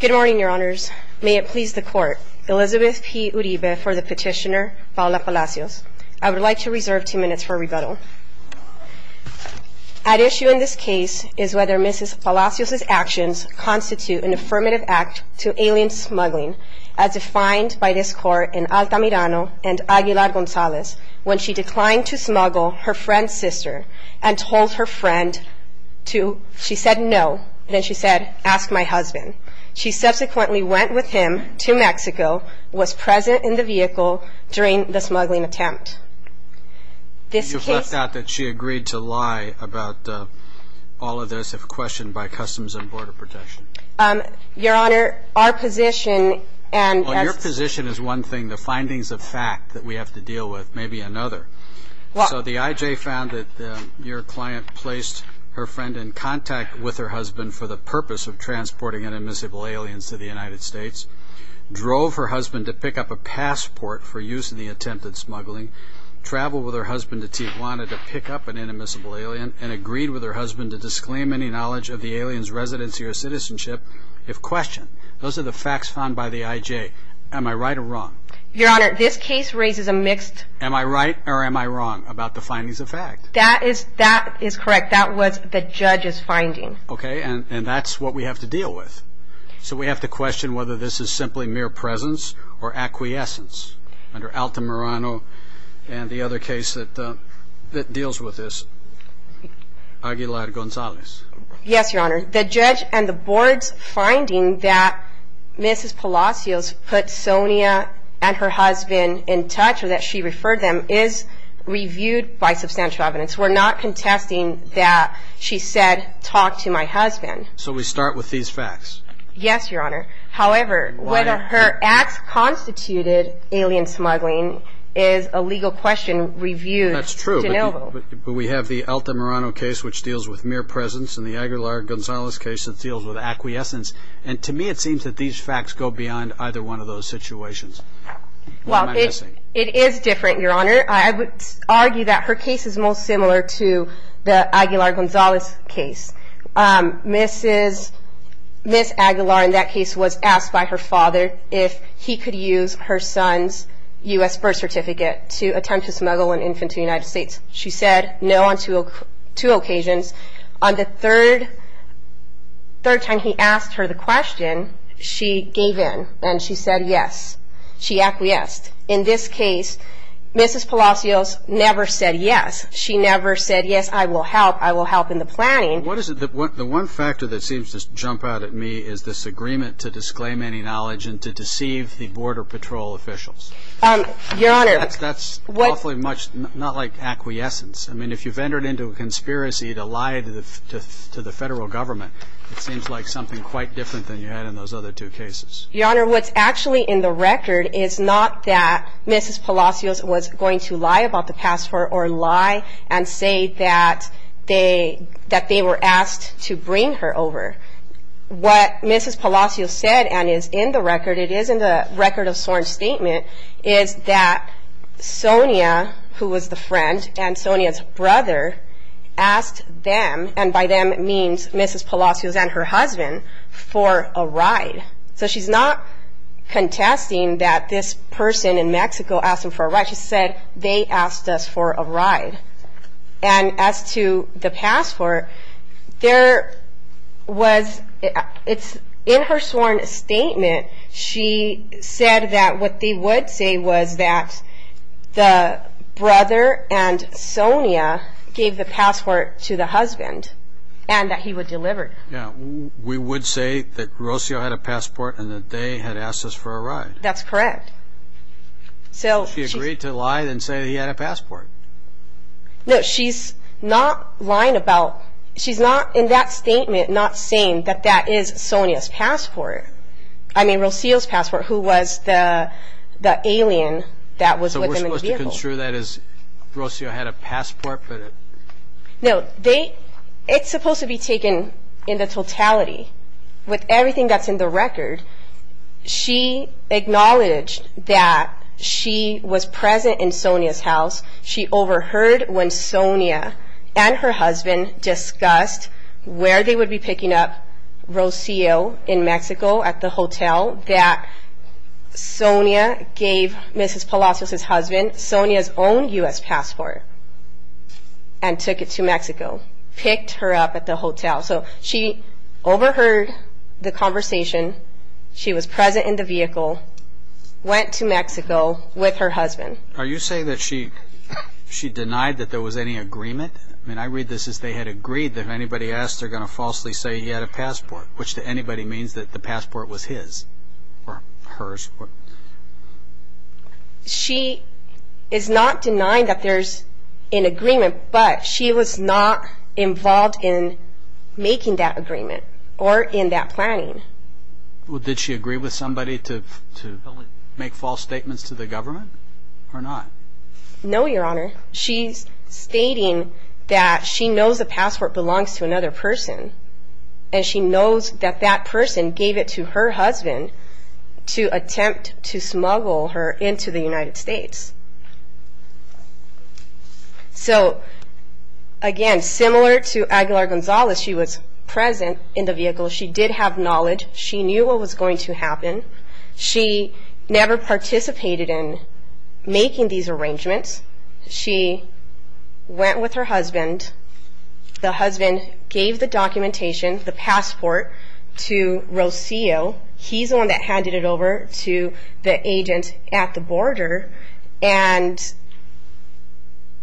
Good morning, your honors. May it please the court. Elizabeth P. Uribe for the petitioner, Paola Palacios. I would like to reserve two minutes for rebuttal. At issue in this case is whether Mrs. Palacios' actions constitute an affirmative act to alien smuggling as defined by this court in Altamirano and Aguilar-Gonzalez when she declined to smuggle her friend's sister and told her friend to, she said no, then she said, ask my husband. She subsequently went with him to Mexico, was present in the vehicle during the smuggling attempt. This case- You've left out that she agreed to lie about all of this if questioned by Customs and Border Protection. Your honor, our position and- Well, your position is one thing, the findings of fact that we have to deal with may be another. So the IJ found that your client placed her friend in contact with her husband for the purpose of transporting inadmissible aliens to the United States, drove her husband to pick up a passport for use in the attempt at smuggling, traveled with her husband to Tijuana to pick up an inadmissible alien, and agreed with her husband to disclaim any knowledge of the alien's residency or citizenship if questioned. Those are the facts found by the IJ. Am I right or wrong? Your honor, this case raises a mixed- Am I right or am I wrong about the findings of fact? That is correct. That was the judge's finding. Okay, and that's what we have to deal with. So we have to question whether this is simply mere presence or acquiescence. Under Alta Morano and the other case that deals with this, Aguilar-Gonzalez. Yes, your honor. The judge and the board's finding that Mrs. Palacios put Sonia and her husband in touch or that she referred them is reviewed by substantial evidence. We're not contesting that she said talk to my husband. So we start with these facts? Yes, your honor. However, whether her acts constituted alien smuggling is a legal question reviewed. That's true, but we have the Alta Morano case which deals with acquiescence, and to me it seems that these facts go beyond either one of those situations. Well, it is different, your honor. I would argue that her case is most similar to the Aguilar-Gonzalez case. Mrs. Aguilar in that case was asked by her father if he could use her son's U.S. birth certificate to attempt to smuggle an infant to the United States. She said no on two occasions. On the third time he asked her the question, she gave in and she said yes. She acquiesced. In this case, Mrs. Palacios never said yes. She never said yes, I will help. I will help in the planning. The one factor that seems to jump out at me is this agreement to disclaim any knowledge and to deceive the border patrol officials. Your honor. That's awfully much not like acquiescence. I mean, if you've entered into a conspiracy to lie to the federal government, it seems like something quite different than you had in those other two cases. Your honor, what's actually in the record is not that Mrs. Palacios was going to lie about the passport or lie and say that they were asked to bring her over. What Mrs. Palacios said and is in the record, it is that Sonia, who was the friend and Sonia's brother, asked them, and by them it means Mrs. Palacios and her husband, for a ride. So she's not contesting that this person in Mexico asked them for a ride. She said, they asked us for a ride. And as to the passport, there was, in her sworn statement, she said that what they would say was that the brother and Sonia gave the passport to the husband and that he would deliver it. Yeah, we would say that Rocio had a passport and that they had asked us for a ride. That's correct. So she agreed to lie and say he had a passport. No, she's not lying about, she's not in that statement not saying that that is Sonia's passport. I mean, Rocio's the alien that was with them in the vehicle. So we're supposed to consider that as Rocio had a passport? No, it's supposed to be taken in the totality. With everything that's in the record, she acknowledged that she was present in Sonia's house. She overheard when Sonia and her husband discussed where they would be picking up Rocio in Mexico. Sonia gave Mrs. Palacios' husband Sonia's own U.S. passport and took it to Mexico, picked her up at the hotel. So she overheard the conversation. She was present in the vehicle, went to Mexico with her husband. Are you saying that she denied that there was any agreement? I mean, I read this as they had agreed that if anybody asked, they're going to falsely say he had a She is not denying that there's an agreement, but she was not involved in making that agreement or in that planning. Well, did she agree with somebody to make false statements to the government or not? No, Your Honor. She's stating that she knows the passport belongs to another person and she knows that that person gave it to her husband to attempt to smuggle her into the United States. So again, similar to Aguilar-Gonzalez, she was present in the vehicle. She did have knowledge. She knew what was going to happen. She never participated in making these arrangements. She went with her husband. The husband gave the documentation, the passport, to Rocio. He's the one that handed it over to the agent at the border, and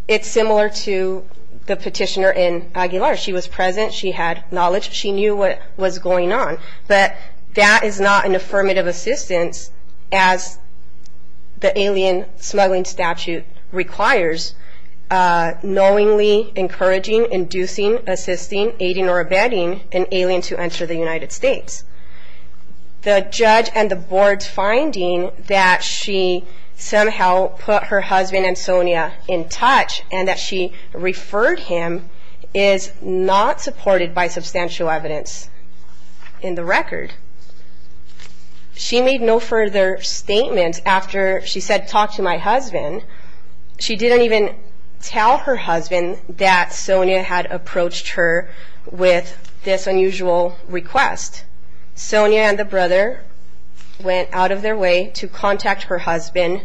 it's similar to the petitioner in Aguilar. She was present. She had knowledge. She knew what was going on, but that is not an affirmative assistance as the alien smuggling statute requires. Knowingly encouraging, inducing, assisting, aiding or abetting an alien to enter the United States. The judge and the board's finding that she somehow put her husband and Sonia in touch and that she referred him is not supported by substantial evidence in the record. She made no further statements after she said talk to my husband. She didn't even tell her husband that Sonia had approached her with this unusual request. Sonia and the brother went out of their way to contact her husband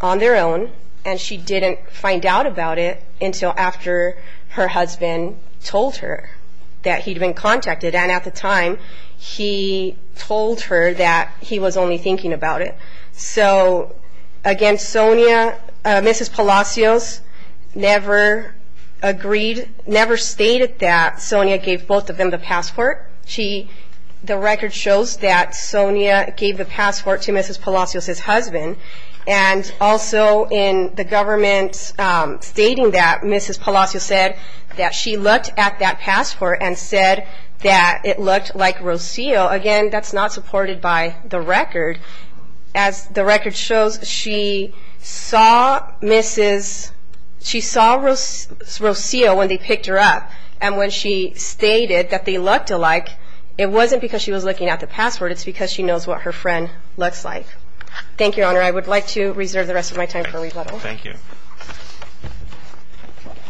on their own, and she didn't find out about it until after her husband told her that he'd been contacted. And at the time, he told her that he was only thinking about it. So, again, Sonia, Mrs. Palacios, never agreed, never stated that Sonia gave both of them the passport. The record shows that Sonia gave the passport to Mrs. Palacios' husband, and also in the government stating that, Mrs. Palacios said that she looked at that passport and said that it looked like Rocio. Again, that's not supported by the record. As the record shows, she saw Mrs. She saw Rocio when they picked her up, and when she stated that they looked alike, it wasn't because she was looking at the passport. It's because she knows what her friend looks like. Thank you, Your Honor. I would like to reserve the rest of my time for rebuttal. Thank you.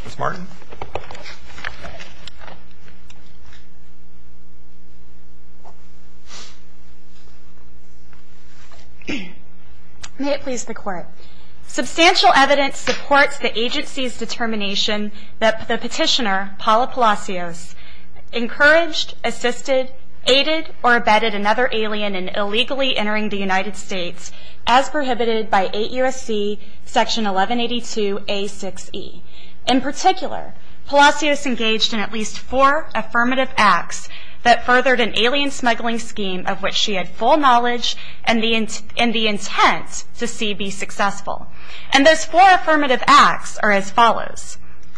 Ms. Martin. May it please the Court. Substantial evidence supports the agency's determination that the petitioner, Paula Palacios, encouraged, assisted, aided, or abetted another alien in illegally entering the United States, as stated in 1182A6E. In particular, Palacios engaged in at least four affirmative acts that furthered an alien smuggling scheme of which she had full knowledge and the intent to see be successful. And those four affirmative acts are as follows.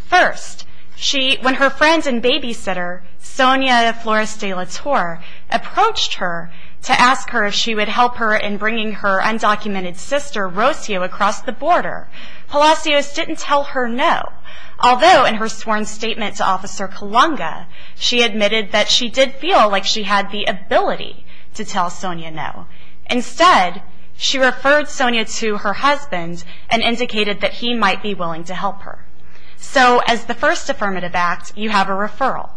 First, she, when her friend and babysitter, Sonia Flores de la Torre, approached her to ask her if she would help her in bringing her Palacios didn't tell her no. Although, in her sworn statement to Officer Kalunga, she admitted that she did feel like she had the ability to tell Sonia no. Instead, she referred Sonia to her husband and indicated that he might be willing to help her. So, as the first affirmative act, you have a referral.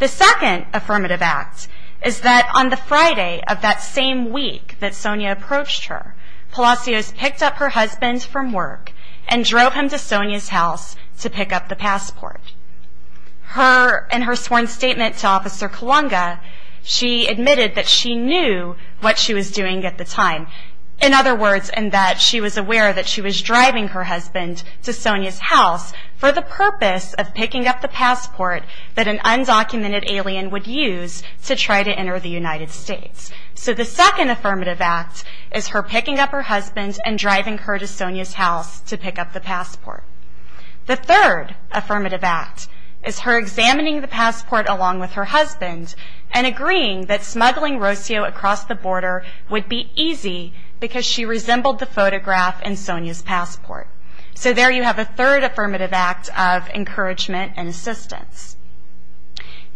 The second affirmative act is that on the Friday of that same week that Sonia approached her, Palacios picked up her husband from work and drove him to Sonia's house to pick up the passport. Her, in her sworn statement to Officer Kalunga, she admitted that she knew what she was doing at the time. In other words, in that she was aware that she was driving her husband to Sonia's house for the purpose of picking up the passport that an undocumented alien would use to try to enter the United States. So, the second affirmative act is her picking up her husband and driving her to Sonia's house to pick up the passport. The third affirmative act is her examining the passport along with her husband and agreeing that smuggling Rosio across the border would be easy because she resembled the photograph in Sonia's passport. So, there you have a third affirmative act of encouragement and assistance.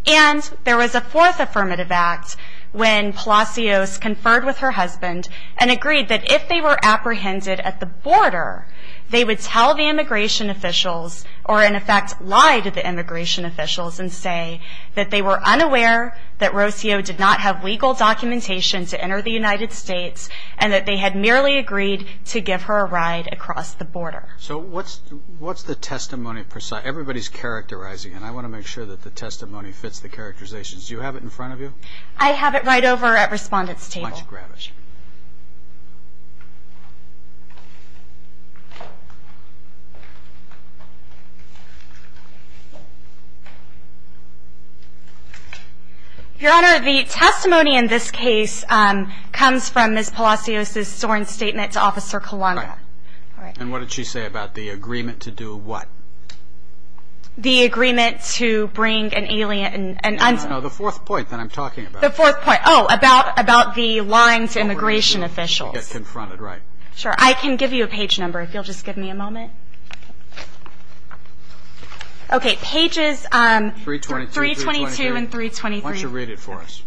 And there was a fourth affirmative act when Palacios conferred with her husband and agreed that if they were apprehended at the border, they would tell the immigration officials or in effect lie to the immigration officials and say that they were unaware that Rosio did not have legal documentation to enter the United States and that they had merely agreed to give her a ride across the border. So, what's the testimony? Everybody's characterizing it. I want to make sure that the testimony fits the characterizations. Do you have it in front of you? I have it right over at Respondent's table. Why don't you grab it? Your Honor, the testimony in this case comes from Ms. Palacios' sworn statement to Officer Colanga. And what did she say about the agreement to do what? The agreement to bring an alien... No, the fourth point that I'm talking about. The fourth point. Oh, about the lying to immigration officials. I can give you a page number if you'll just give me a moment. Okay, pages 322 and 323. Why don't you read it for us?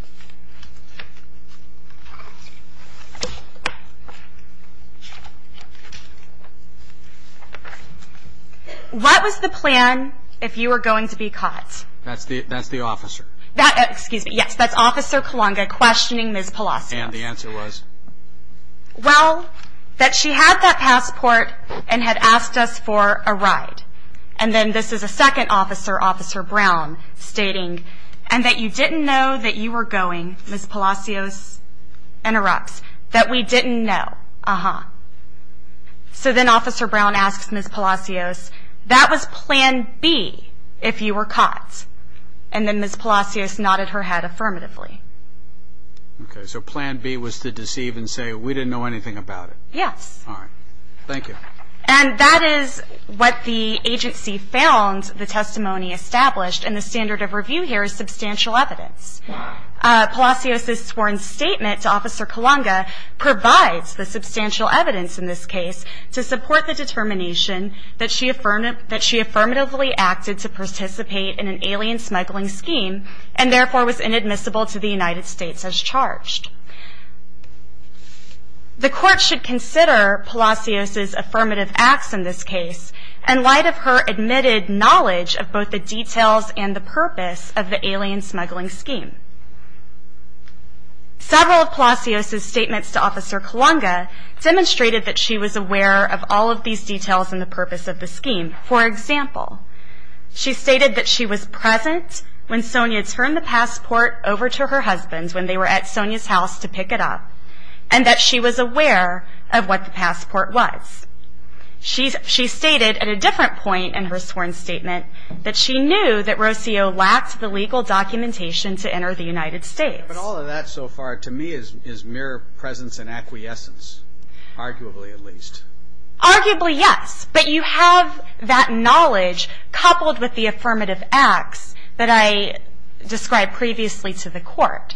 What was the plan if you were going to be caught? That's the officer. Excuse me, yes, that's Officer Colanga questioning Ms. Palacios. And the answer was? Well, that she had that passport and had asked us for a ride. And then this is a second officer, Officer Brown, stating, and that you didn't know that you were going, Ms. Palacios interrupts, that we didn't know. Uh-huh. So then Officer Brown asks Ms. Palacios, that was plan B if you were caught. And then Ms. Palacios nodded her head affirmatively. Okay, so plan B was to deceive and say we didn't know anything about it. Yes. All right, thank you. And that is what the agency found the Palacios's sworn statement to Officer Colanga provides the substantial evidence in this case to support the determination that she affirmatively acted to participate in an alien smuggling scheme and therefore was inadmissible to the United States as charged. The court should consider Palacios's affirmative acts in this case in light of her knowledge of both the details and the purpose of the alien smuggling scheme. Several of Palacios's statements to Officer Colanga demonstrated that she was aware of all of these details and the purpose of the scheme. For example, she stated that she was present when Sonia turned the passport over to her husband when they were at Sonia's house to pick it up and that she was aware of what the passport was. She stated at a different point in her sworn statement that she knew that Rocio lacked the legal documentation to enter the United States. But all of that so far to me is mere presence and acquiescence, arguably at least. Arguably yes, but you have that knowledge coupled with the affirmative acts that I described previously to the court.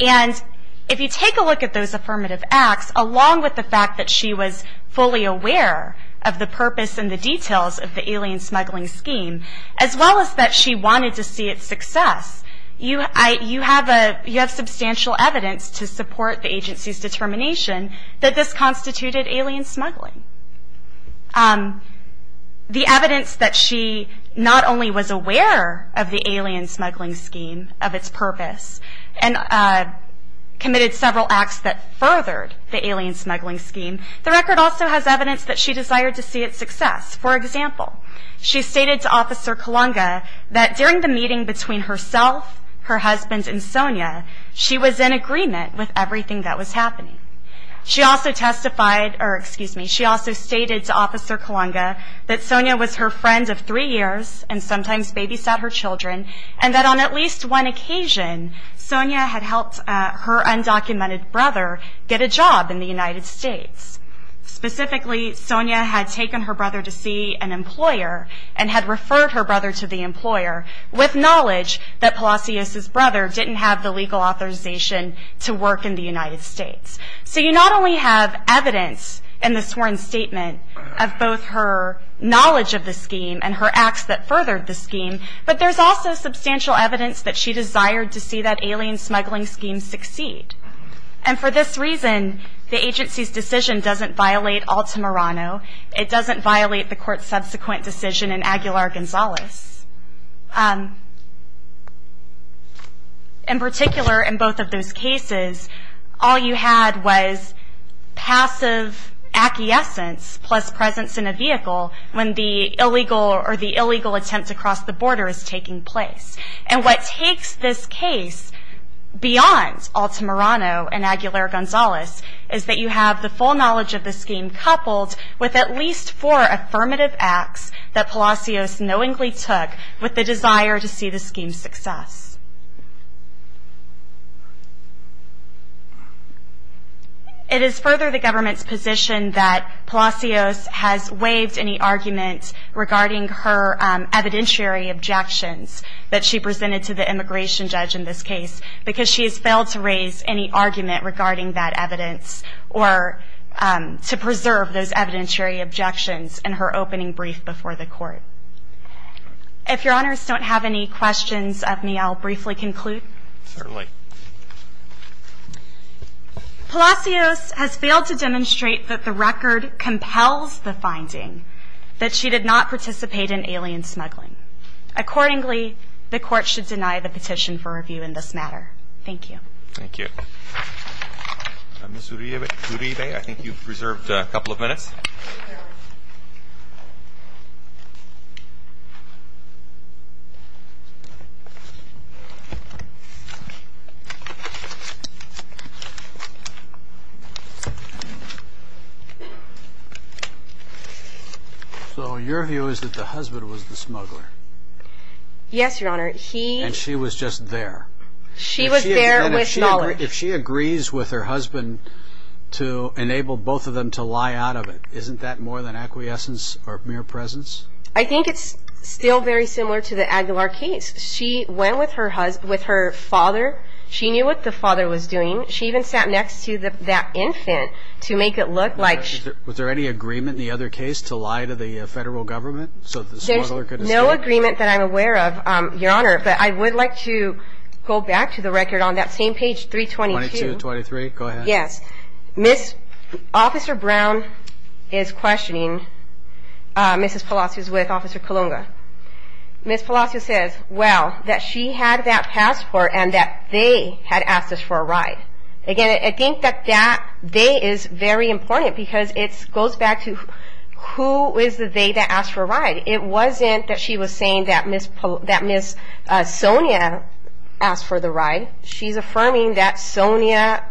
And if you take a look at those affirmative acts along with the fact that she was fully aware of the purpose and the details of the alien smuggling scheme as well as that she wanted to see its success, you have substantial evidence to support the agency's determination that this constituted alien smuggling. The evidence that she not only was aware of the alien smuggling scheme, of its purpose, and committed several acts that furthered the alien smuggling scheme, the record also has evidence that she desired to see its success. For example, she stated to Officer Kalunga that during the meeting between herself, her husband, and Sonia, she was in agreement with everything that was happening. She also testified, or excuse me, she also stated to Officer Kalunga that Sonia was her friend of three years and sometimes babysat her get a job in the United States. Specifically, Sonia had taken her brother to see an employer and had referred her brother to the employer with knowledge that Palacios' brother didn't have the legal authorization to work in the United States. So you not only have evidence in the sworn statement of both her knowledge of the scheme and her acts that furthered the scheme, but there's also substantial evidence that she succeeded. And for this reason, the agency's decision doesn't violate Altamirano. It doesn't violate the court's subsequent decision in Aguilar-Gonzalez. In particular, in both of those cases, all you had was passive acquiescence plus presence in a vehicle when the illegal or the illegal attempt to cross the border is taking place. And what takes this case beyond Altamirano and Aguilar-Gonzalez is that you have the full knowledge of the scheme coupled with at least four affirmative acts that Palacios knowingly took with the desire to see the scheme's success. It is further the government's position that Palacios has waived any argument regarding her evidentiary objections that she presented to the immigration judge in this case because she has failed to raise any argument regarding that evidence or to preserve those evidentiary objections in her opening brief before the court. If your honors don't have any questions of me, I'll briefly conclude. Palacios has failed to demonstrate that the record compels the finding, that she did not participate in alien smuggling. Accordingly, the court should deny the petition for review in this matter. Thank you. Thank you. Ms. Uribe, I think you've reserved a couple of minutes. So your view is that the husband was the smuggler? Yes, your honor. He... And she was just there. She was there with knowledge. If she agrees with her husband to enable both of them to lie out of it, isn't that more than acquiescence or mere presence? I think it's still very similar to the Aguilar case. She went with her father. She knew what the father was doing. She even sat next to that infant to make it look like... Was there any agreement in the other case to lie to the federal government so the smuggler could escape? There's no agreement that I'm aware of, your honor, but I would like to go back to the record on that same page 322... 3223, go ahead. Yes. Ms. Officer Brown is questioning Mrs. Palacios with Officer Kalunga. Ms. Palacios says, well, that she had that passport and that they had asked us for a ride. Again, I think that that they is very important because it goes back to who is the they that asked for a ride. It wasn't that she was saying that Ms. Sonia asked for the ride. She's affirming that Sonia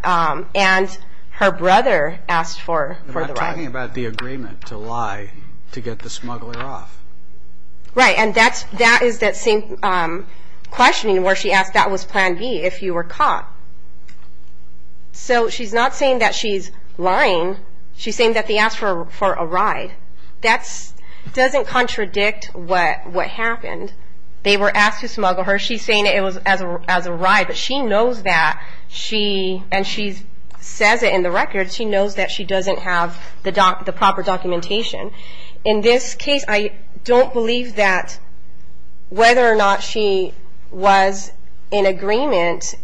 and her brother asked for the ride. I'm talking about the agreement to lie to get the smuggler off. Right. And that is that same questioning where she asked, that was plan B, if you were caught. So she's not saying that she's lying. She's saying that they asked for a ride. That doesn't contradict what happened. They were asked to smuggle her. She's saying it was as a ride. But she knows that she, and she says it in the record, she knows that she doesn't have the proper documentation. In this case, I don't believe that whether or not she was in agreement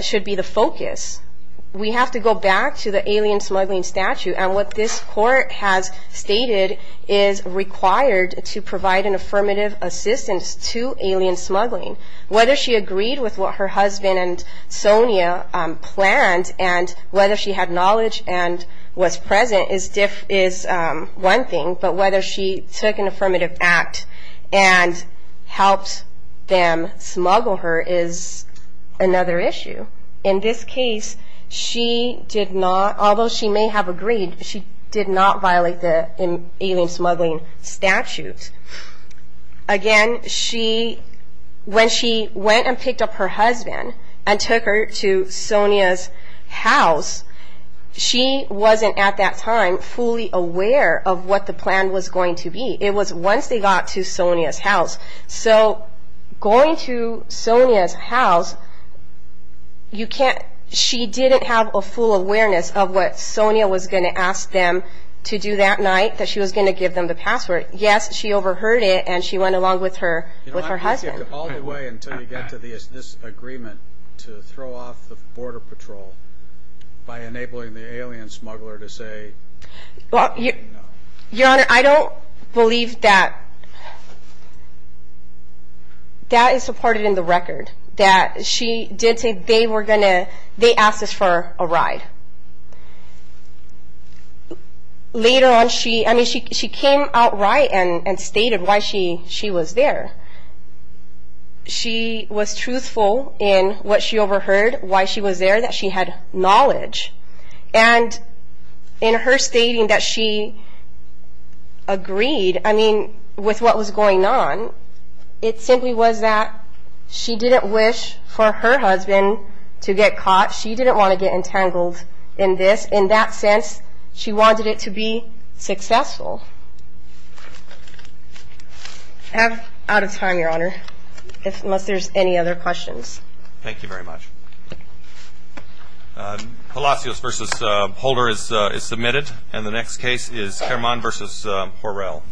should be the focus. We have to go back to the alien smuggling statute. And what this court has stated is required to provide an affirmative assistance to alien smuggling. Whether she agreed with what her husband and Sonia planned and whether she had knowledge and was present is one thing. But whether she took an affirmative act and helped them smuggle her is another issue. In this case, she did not, although she may have agreed, she did not violate the alien smuggling statute. Again, when she went and picked up her husband and took her to Sonia's house, she wasn't at that time fully aware of what the plan was going to be. So going to Sonia's house, you can't, she didn't have a full awareness of what Sonia was going to ask them to do that night, that she was going to give them the password. Yes, she overheard it and she went along with her husband. All the way until you get to this agreement to throw off the border patrol by enabling the alien smuggler to say no. Your Honor, I don't believe that that is supported in the record, that she did say they were going to, they asked us for a ride. Later on, she came out right and stated why she was there. She was truthful in what she overheard, why she was there, that she had knowledge. And in her stating that she agreed, I mean, with what was going on, it simply was that she didn't wish for her husband to get caught. She didn't want to get entangled in this. In that sense, she wanted it to be successful. I'm out of time, Your Honor, unless there's any other questions. Thank you very much. Palacios v. Holder is submitted, and the next case is Caraman v. Horrell.